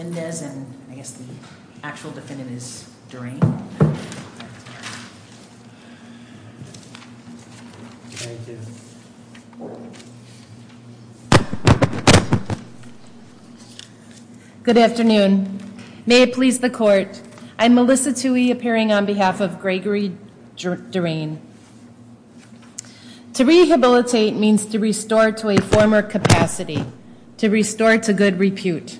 and I guess the actual defendant is Durain. Good afternoon. May it please the court, I'm Melissa Tuohy appearing on behalf of Gregory Durain. To rehabilitate means to restore to a former capacity, to restore to good repute.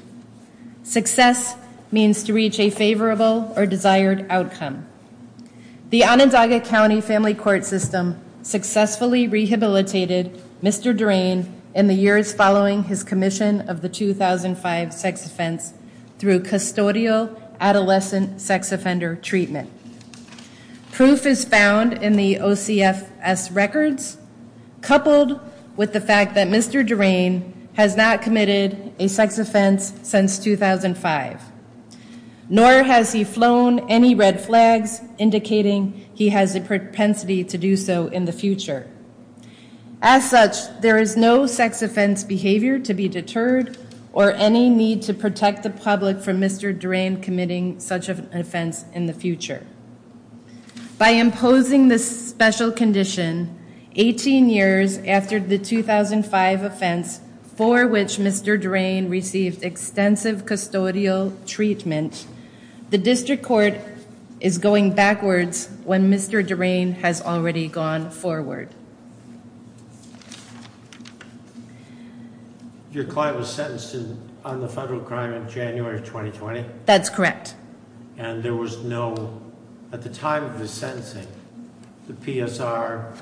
Success means to reach a favorable or desired outcome. The Onondaga County Family Court System successfully rehabilitated Mr. Durain in the years following his commission of the 2005 sex offense through custodial adolescent sex offender treatment. Proof is found in the OCFS records coupled with the fact that Mr. Durain has not committed a sex offense since 2005, nor has he flown any red flags indicating he has a propensity to do so in the future. As such, there is no sex offense behavior to be deterred or any need to protect the public from Mr. Durain committing such an offense in the future. By imposing this special condition, 18 years after the 2005 offense for which Mr. Durain received extensive custodial treatment, the district court is going backwards when Mr. Durain has already gone forward. Your client was sentenced on the federal crime in January of 2020? That's correct. And there was no, at the time of his sentencing, the PSR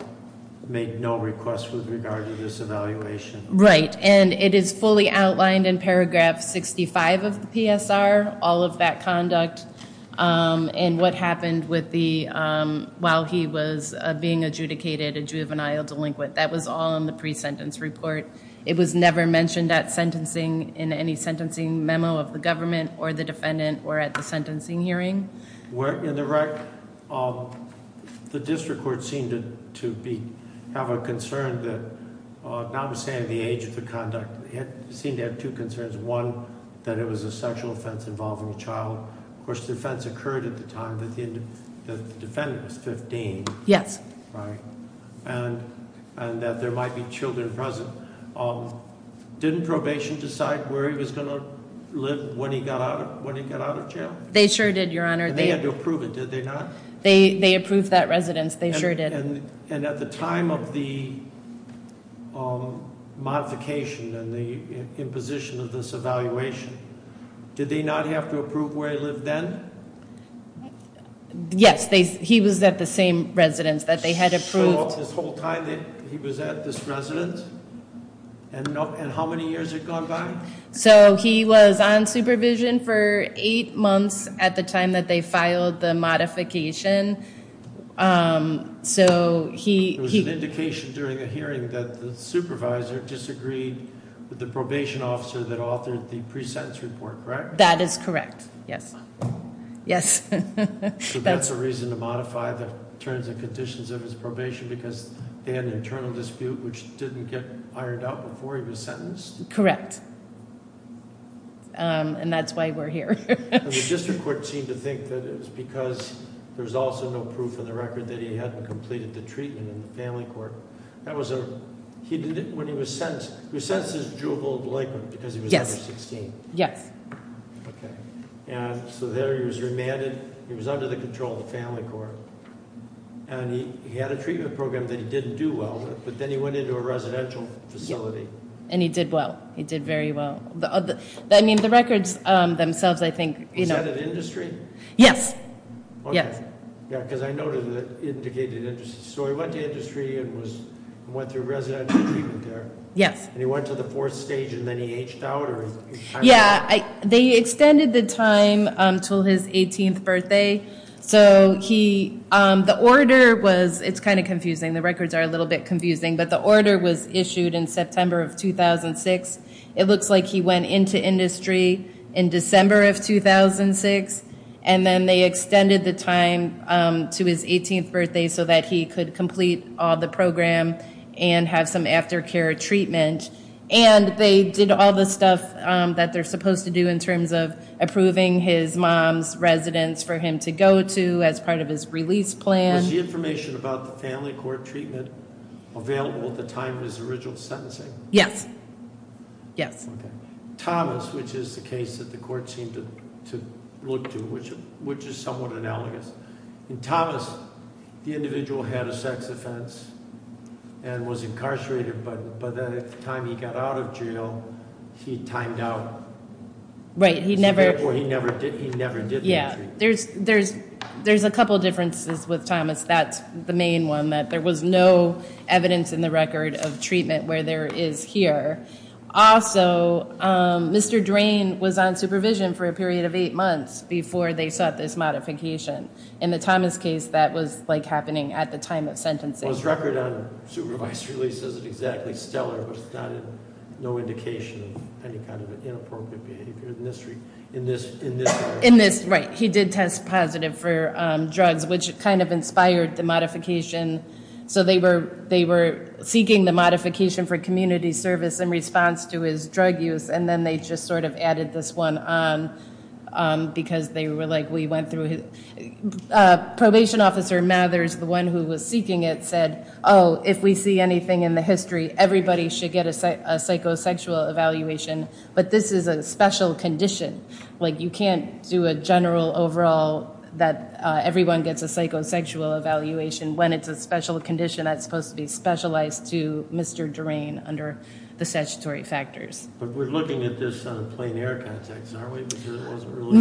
made no request with regard to this evaluation? Right. And it is fully outlined in paragraph 65 of the PSR, all of that conduct and what happened with the, while he was being adjudicated a juvenile delinquent. That was all in the pre-sentence report. It was never mentioned at sentencing in any sentencing memo of the government or the defendant or at the sentencing hearing. The district court seemed to have a concern that, now I'm saying the age of the conduct, it seemed to have two concerns. One, that it was a sexual offense involving a child. Of course, the offense occurred at the time that the defendant was 15. Yes. Right. And that there might be children present. Didn't probation decide where he was going to live when he got out of jail? They sure did, Your Honor. They had to approve it, did they not? They approved that residence. They sure did. And at the time of the modification and the imposition of this evaluation, did they not have to approve where he lived then? Yes, he was at the same residence that they had approved. So, this whole time that he was at this residence, and how many years had gone by? So he was on supervision for eight months at the time that they filed the modification. So he- It was an indication during a hearing that the supervisor disagreed with the probation officer that authored the pre-sentence report, correct? That is correct. Yes. Yes. So that's a reason to modify the terms and conditions of his probation because they had an internal dispute, which didn't get ironed out before he was sentenced? Correct. And that's why we're here. And the district court seemed to think that it was because there was also no proof in the record that he hadn't completed the treatment in the family court. That was a- He did it when he was sentenced. He was sentenced as juvenile delinquent because he was under 16. Yes. Okay. And so there he was remanded, he was under the control of the family court, and he had a treatment program that he didn't do well, but then he went into a residential facility. And he did well. He did very well. I mean, the records themselves, I think- Was that at industry? Yes. Okay. Yes. Yeah, because I noted that it indicated industry. So he went to industry and went through residential treatment there? Yes. And he went to the fourth stage and then he aged out or- Yeah. They extended the time until his 18th birthday. So he, the order was, it's kind of confusing. The records are a little bit confusing, but the order was issued in September of 2006. It looks like he went into industry in December of 2006. And then they extended the time to his 18th birthday so that he could complete all the program and have some aftercare treatment. And they did all the stuff that they're supposed to do in terms of approving his mom's residence for him to go to as part of his release plan. Was the information about the family court treatment available at the time of his original sentencing? Yes. Okay. Thomas, which is the case that the court seemed to look to, which is somewhat analogous. In Thomas, the individual had a sex offense and was incarcerated, but then at the time he got out of jail, he timed out. Right. He never- So therefore, he never did any treatment. Yeah. There's a couple of differences with Thomas. That's the main one, that there was no evidence in the record of treatment where there is here. Also, Mr. Drain was on supervision for a period of eight months before they sought this modification. In the Thomas case, that was like happening at the time of sentencing. Well, his record on supervised release isn't exactly stellar, but it's not no indication of any kind of inappropriate behavior in this regard. In this, right. He did test positive for drugs, which kind of inspired the modification. They were seeking the modification for community service in response to his drug use, and then they just sort of added this one on because they were like, we went through his... Probation officer Mathers, the one who was seeking it, said, oh, if we see anything in the history, everybody should get a psychosexual evaluation, but this is a special condition. You can't do a general overall that everyone gets a psychosexual evaluation when it's a special condition that's supposed to be specialized to Mr. Drain under the statutory factors. But we're looking at this on a plain air context, aren't we, because it wasn't really...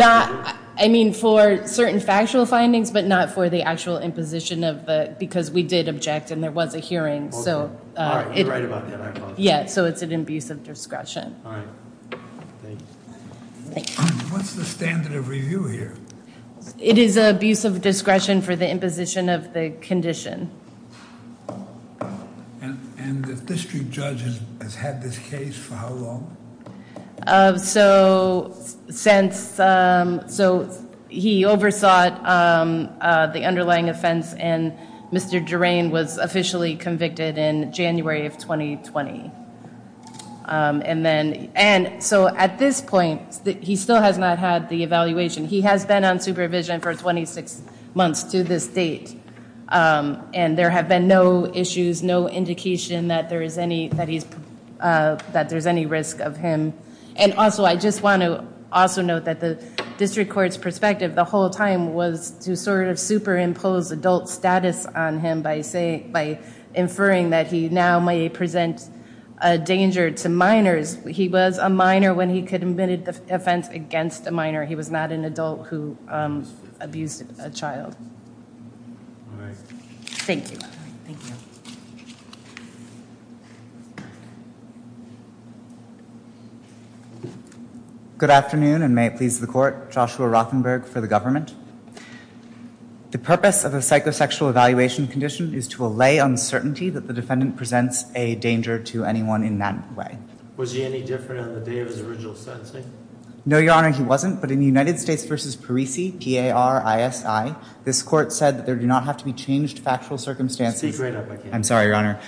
I mean, for certain factual findings, but not for the actual imposition of the... Because we did object and there was a hearing, so... All right. You're right about that, I apologize. Yeah, so it's an abuse of discretion. All right. Thank you. Thank you. What's the standard of review here? It is an abuse of discretion for the imposition of the condition. And the district judge has had this case for how long? So since... So he oversaw it, the underlying offense, and Mr. Drain was officially convicted in January of 2020. And then... And so at this point, he still has not had the evaluation. He has been on supervision for 26 months to this date. And there have been no issues, no indication that there is any risk of him. And also, I just want to also note that the district court's perspective the whole time was to sort of superimpose adult status on him by inferring that he now may present a danger to minors. He was a minor when he committed the offense against a minor. He was not an adult who abused a child. All right. Thank you. Thank you. Good afternoon, and may it please the court, Joshua Rothenberg for the government. The purpose of a psychosexual evaluation condition is to allay uncertainty that the defendant presents a danger to anyone in that way. Was he any different on the day of his original sentencing? No, Your Honor, he wasn't. But in United States v. Parisi, P-A-R-I-S-I, this court said that there do not have to be changed factual circumstances... Speak right up, I can't hear you. I'm sorry, Your Honor.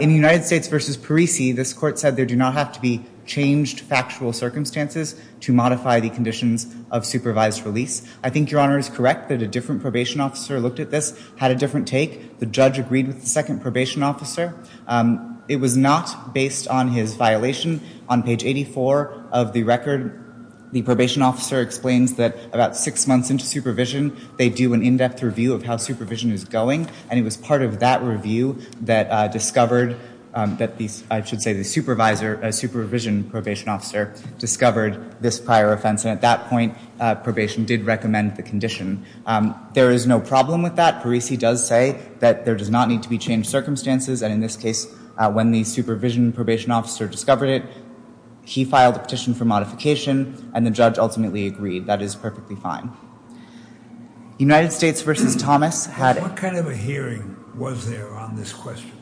In United States v. Parisi, this court said there do not have to be changed factual circumstances to modify the conditions of supervised release. I think Your Honor is correct that a different probation officer looked at this, had a different take. The judge agreed with the second probation officer. It was not based on his violation. On page 84 of the record, the probation officer explains that about six months into supervision, they do an in-depth review of how supervision is going. And it was part of that review that discovered that the, I should say, the supervisor, a supervision probation officer, discovered this prior offense. And at that point, probation did recommend the condition. There is no problem with that. Parisi does say that there does not need to be changed circumstances. And in this case, when the supervision probation officer discovered it, he filed a petition for modification, and the judge ultimately agreed. That is perfectly fine. United States v. Thomas had... What kind of a hearing was there on this question?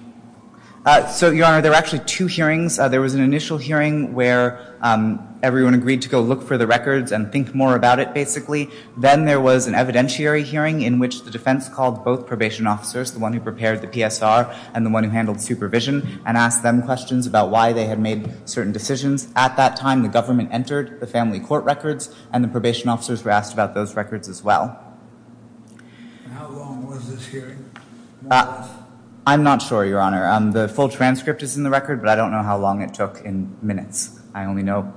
So, Your Honor, there were actually two hearings. There was an initial hearing where everyone agreed to go look for the records and think more about it, basically. Then there was an evidentiary hearing in which the defense called both probation officers, the one who prepared the PSR and the one who handled supervision, and asked them questions about why they had made certain decisions. At that time, the government entered the family court records, and the probation officers were asked about those records as well. How long was this hearing? I'm not sure, Your Honor. The full transcript is in the record, but I don't know how long it took in minutes. I only know,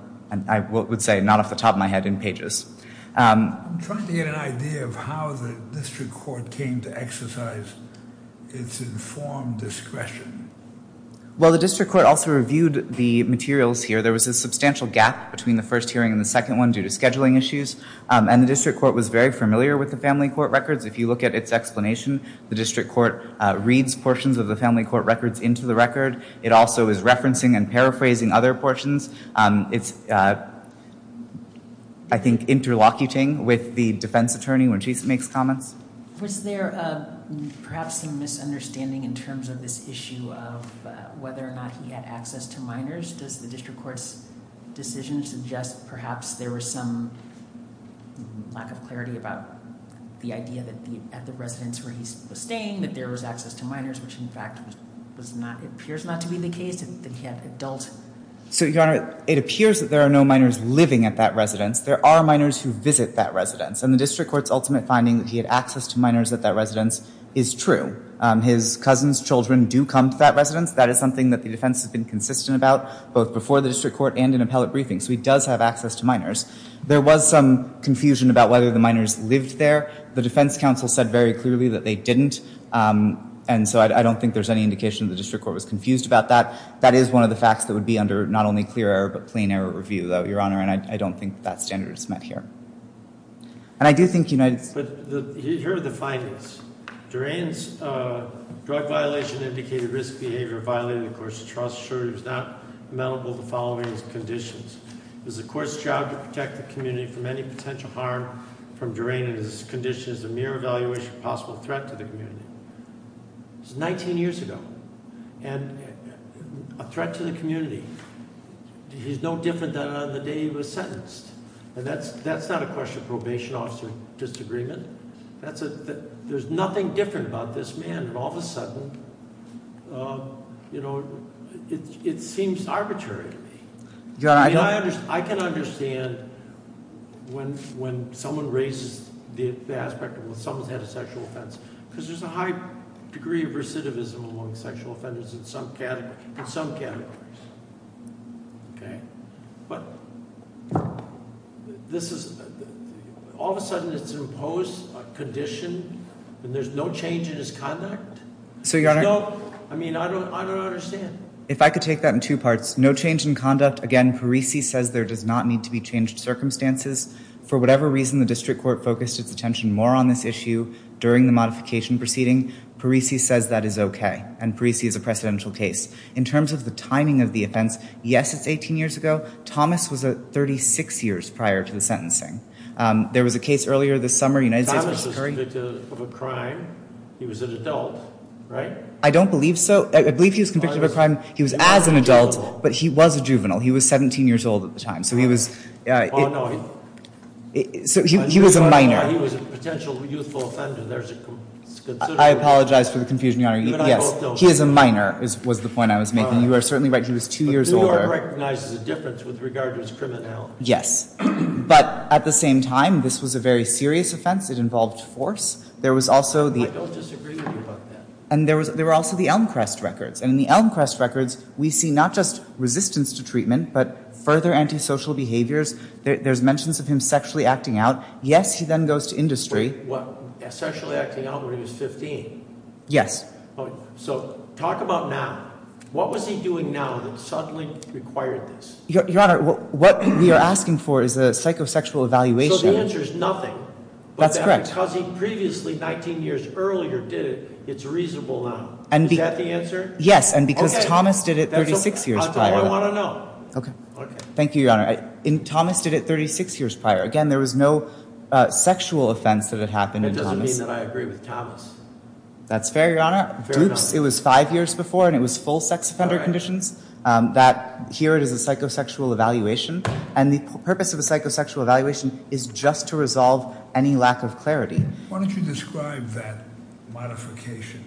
I would say, not off the top of my head, in pages. I'm trying to get an idea of how the district court came to exercise its informed discretion. Well, the district court also reviewed the materials here. There was a substantial gap between the first hearing and the second one due to scheduling issues, and the district court was very familiar with the family court records. If you look at its explanation, the district court reads portions of the family court records into the record. It also is referencing and paraphrasing other portions. It's, I think, interlocuting with the defense attorney when she makes comments. Was there perhaps some misunderstanding in terms of this issue of whether or not he had access to minors? Does the district court's decision suggest perhaps there was some lack of clarity about the idea that at the residence where he was staying that there was access to minors, which, in fact, appears not to be the case, that he had adult... So, Your Honor, it appears that there are no minors living at that residence. There are minors who visit that residence, and the district court's ultimate finding that he had access to minors at that residence is true. His cousins' children do come to that residence. That is something that the defense has been consistent about, both before the district court and in appellate briefings. So he does have access to minors. There was some confusion about whether the minors lived there. The defense counsel said very clearly that they didn't, and so I don't think there's any indication the district court was confused about that. That is one of the facts that would be under not only clear error but plain error review, though, Your Honor, and I don't think that standard is met here. And I do think United States... But here are the findings. Durain's drug violation indicated risk behavior violated the court's trust, assuring it was not amenable to following his conditions. It was the court's job to protect the community from any potential harm from Durain and his condition is a mere evaluation of possible threat to the community. It was 19 years ago, and a threat to the community. He's no different than on the day he was sentenced, and that's not a question of probation officer disagreement. There's nothing different about this man, and all of a sudden, you know, it seems arbitrary to me. I mean, I can understand when someone raises the aspect of someone's had a sexual offense because there's a high degree of recidivism among sexual offenders in some categories, okay? But this is all of a sudden it's imposed, a condition, and there's no change in his conduct? So, Your Honor... I mean, I don't understand. If I could take that in two parts. No change in conduct. Again, Parisi says there does not need to be changed circumstances. For whatever reason, the district court focused its attention more on this issue during the modification proceeding. Parisi says that is okay, and Parisi is a precedential case. In terms of the timing of the offense, yes, it's 18 years ago. Thomas was 36 years prior to the sentencing. There was a case earlier this summer. Thomas was convicted of a crime. He was an adult, right? I don't believe so. I believe he was convicted of a crime. He was as an adult, but he was a juvenile. He was 17 years old at the time. So he was a minor. He was a potential youthful offender. I apologize for the confusion, Your Honor. Yes. He is a minor was the point I was making. You are certainly right. He was 2 years older. But New York recognizes the difference with regard to his criminality. Yes. But at the same time, this was a very serious offense. It involved force. There was also the... I don't disagree with you about that. And there were also the Elmcrest records. And in the Elmcrest records, we see not just resistance to treatment, but further antisocial behaviors. There's mentions of him sexually acting out. Yes, he then goes to industry. What, sexually acting out when he was 15? Yes. So talk about now. What was he doing now that suddenly required this? Your Honor, what we are asking for is a psychosexual evaluation. So the answer is nothing. That's correct. Because he previously, 19 years earlier, did it, it's reasonable now. Is that the answer? Yes. And because Thomas did it 36 years prior. That's all I want to know. Okay. Thank you, Your Honor. Thomas did it 36 years prior. Again, there was no sexual offense that had happened in Thomas. That doesn't mean that I agree with Thomas. That's fair, Your Honor. It was 5 years before, and it was full sex offender conditions. Here it is a psychosexual evaluation. And the purpose of a psychosexual evaluation is just to resolve any lack of clarity. Why don't you describe that modification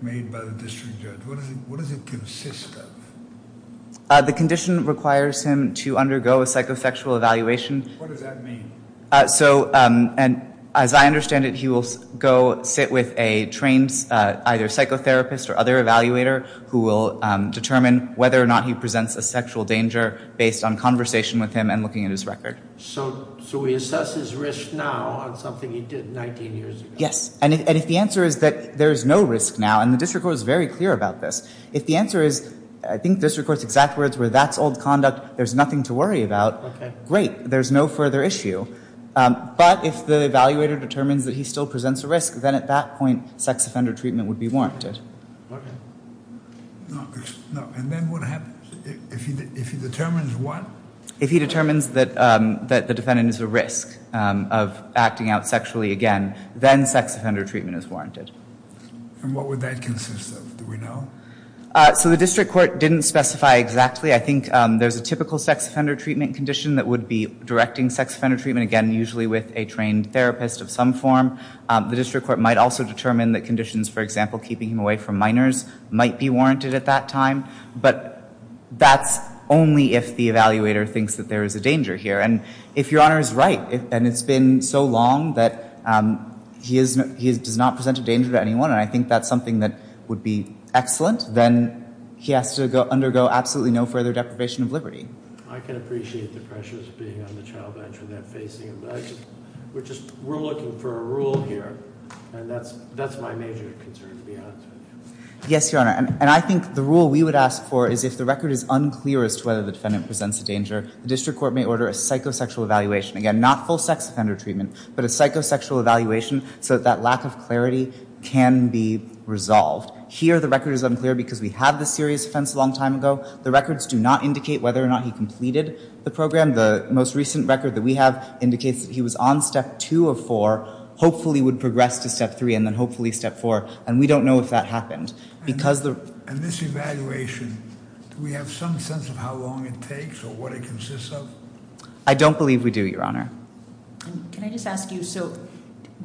made by the district judge? What does it consist of? The condition requires him to undergo a psychosexual evaluation. What does that mean? As I understand it, he will go sit with a trained either psychotherapist or other evaluator who will determine whether or not he presents a sexual danger based on conversation with him and looking at his record. So he assesses risk now on something he did 19 years ago? Yes. And if the answer is that there is no risk now, and the district court is very clear about this, if the answer is, I think district court's exact words were, that's old conduct, there's nothing to worry about, great. There's no further issue. But if the evaluator determines that he still presents a risk, then at that point sex offender treatment would be warranted. And then what happens? If he determines what? If he determines that the defendant is at risk of acting out sexually again, then sex offender treatment is warranted. And what would that consist of? Do we know? So the district court didn't specify exactly. I think there's a typical sex offender treatment condition that would be directing sex offender treatment, again, usually with a trained therapist of some form. The district court might also determine that conditions, for example, keeping him away from minors might be warranted at that time. But that's only if the evaluator thinks that there is a danger here. And if Your Honor is right, and it's been so long that he does not present a danger to anyone, and I think that's something that would be excellent, then he has to undergo absolutely no further deprivation of liberty. I can appreciate the pressures of being on the child bench without facing him, but we're looking for a rule here, and that's my major concern, to be honest with you. Yes, Your Honor. And I think the rule we would ask for is if the record is unclear as to whether the defendant presents a danger, the district court may order a psychosexual evaluation, again, not full sex offender treatment, but a psychosexual evaluation so that that lack of clarity can be resolved. Here the record is unclear because we have the serious offense a long time ago. The records do not indicate whether or not he completed the program. The most recent record that we have indicates that he was on step two of four, hopefully would progress to step three, and then hopefully step four, and we don't know if that happened. And this evaluation, do we have some sense of how long it takes or what it consists of? I don't believe we do, Your Honor. Can I just ask you, so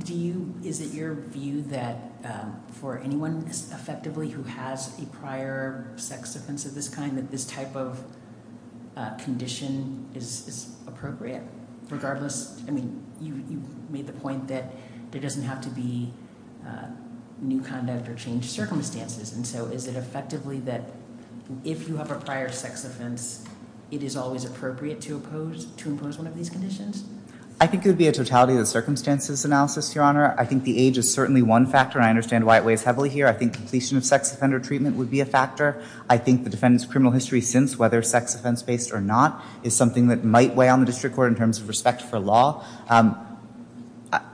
is it your view that for anyone effectively who has a prior sex offense of this kind, that this type of condition is appropriate regardless? I mean, you made the point that there doesn't have to be new conduct or changed circumstances, and so is it effectively that if you have a prior sex offense, it is always appropriate to impose one of these conditions? I think it would be a totality of the circumstances analysis, Your Honor. I think the age is certainly one factor, and I understand why it weighs heavily here. I think completion of sex offender treatment would be a factor. I think the defendant's criminal history since, whether sex offense-based or not, is something that might weigh on the district court in terms of respect for law.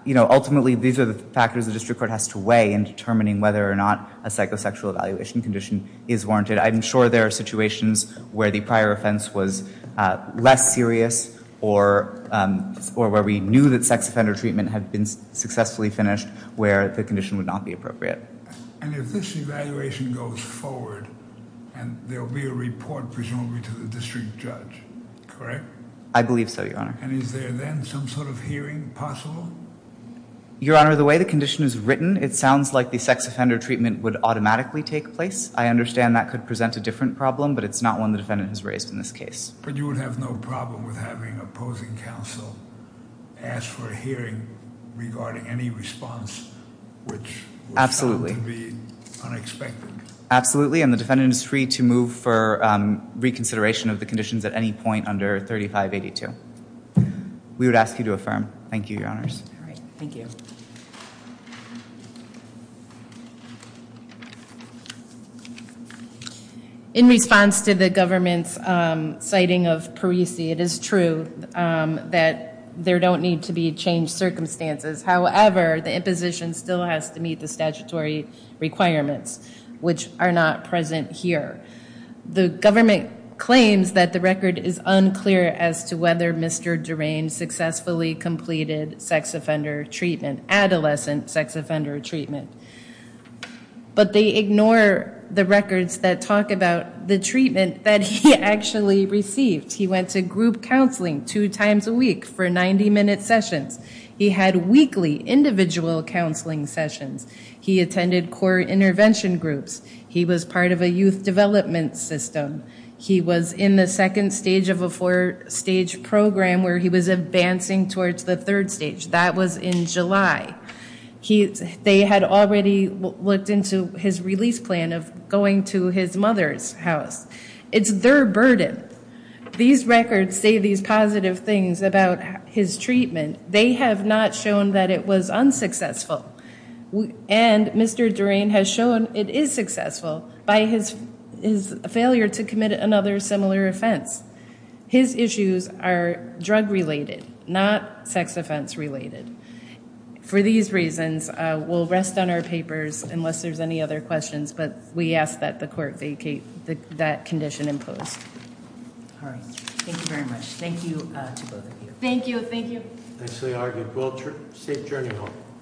Ultimately, these are the factors the district court has to weigh in determining whether or not a psychosexual evaluation condition is warranted. I'm sure there are situations where the prior offense was less serious or where we knew that sex offender treatment had been successfully finished where the condition would not be appropriate. And if this evaluation goes forward, there will be a report, presumably, to the district judge, correct? I believe so, Your Honor. And is there then some sort of hearing possible? Your Honor, the way the condition is written, it sounds like the sex offender treatment would automatically take place. I understand that could present a different problem, but it's not one the defendant has raised in this case. But you would have no problem with having opposing counsel ask for a hearing regarding any response, which would seem to be unexpected? Absolutely, and the defendant is free to move for reconsideration of the conditions at any point under 3582. We would ask you to affirm. Thank you, Your Honors. All right. Thank you. In response to the government's citing of Parisi, it is true that there don't need to be changed circumstances. However, the imposition still has to meet the statutory requirements, which are not present here. The government claims that the record is unclear as to whether Mr. Durain successfully completed sex offender treatment, adolescent sex offender treatment. But they ignore the records that talk about the treatment that he actually received. He went to group counseling two times a week for 90-minute sessions. He had weekly individual counseling sessions. He attended core intervention groups. He was part of a youth development system. He was in the second stage of a four-stage program where he was advancing towards the third stage. That was in July. They had already looked into his release plan of going to his mother's house. It's their burden. These records say these positive things about his treatment. They have not shown that it was unsuccessful. And Mr. Durain has shown it is successful by his failure to commit another similar offense. His issues are drug-related, not sex offense-related. For these reasons, we'll rest on our papers unless there's any other questions. But we ask that the court vacate that condition in post. All right. Thank you very much. Thank you to both of you. Thank you. Thank you. Nicely argued. Safe journey home.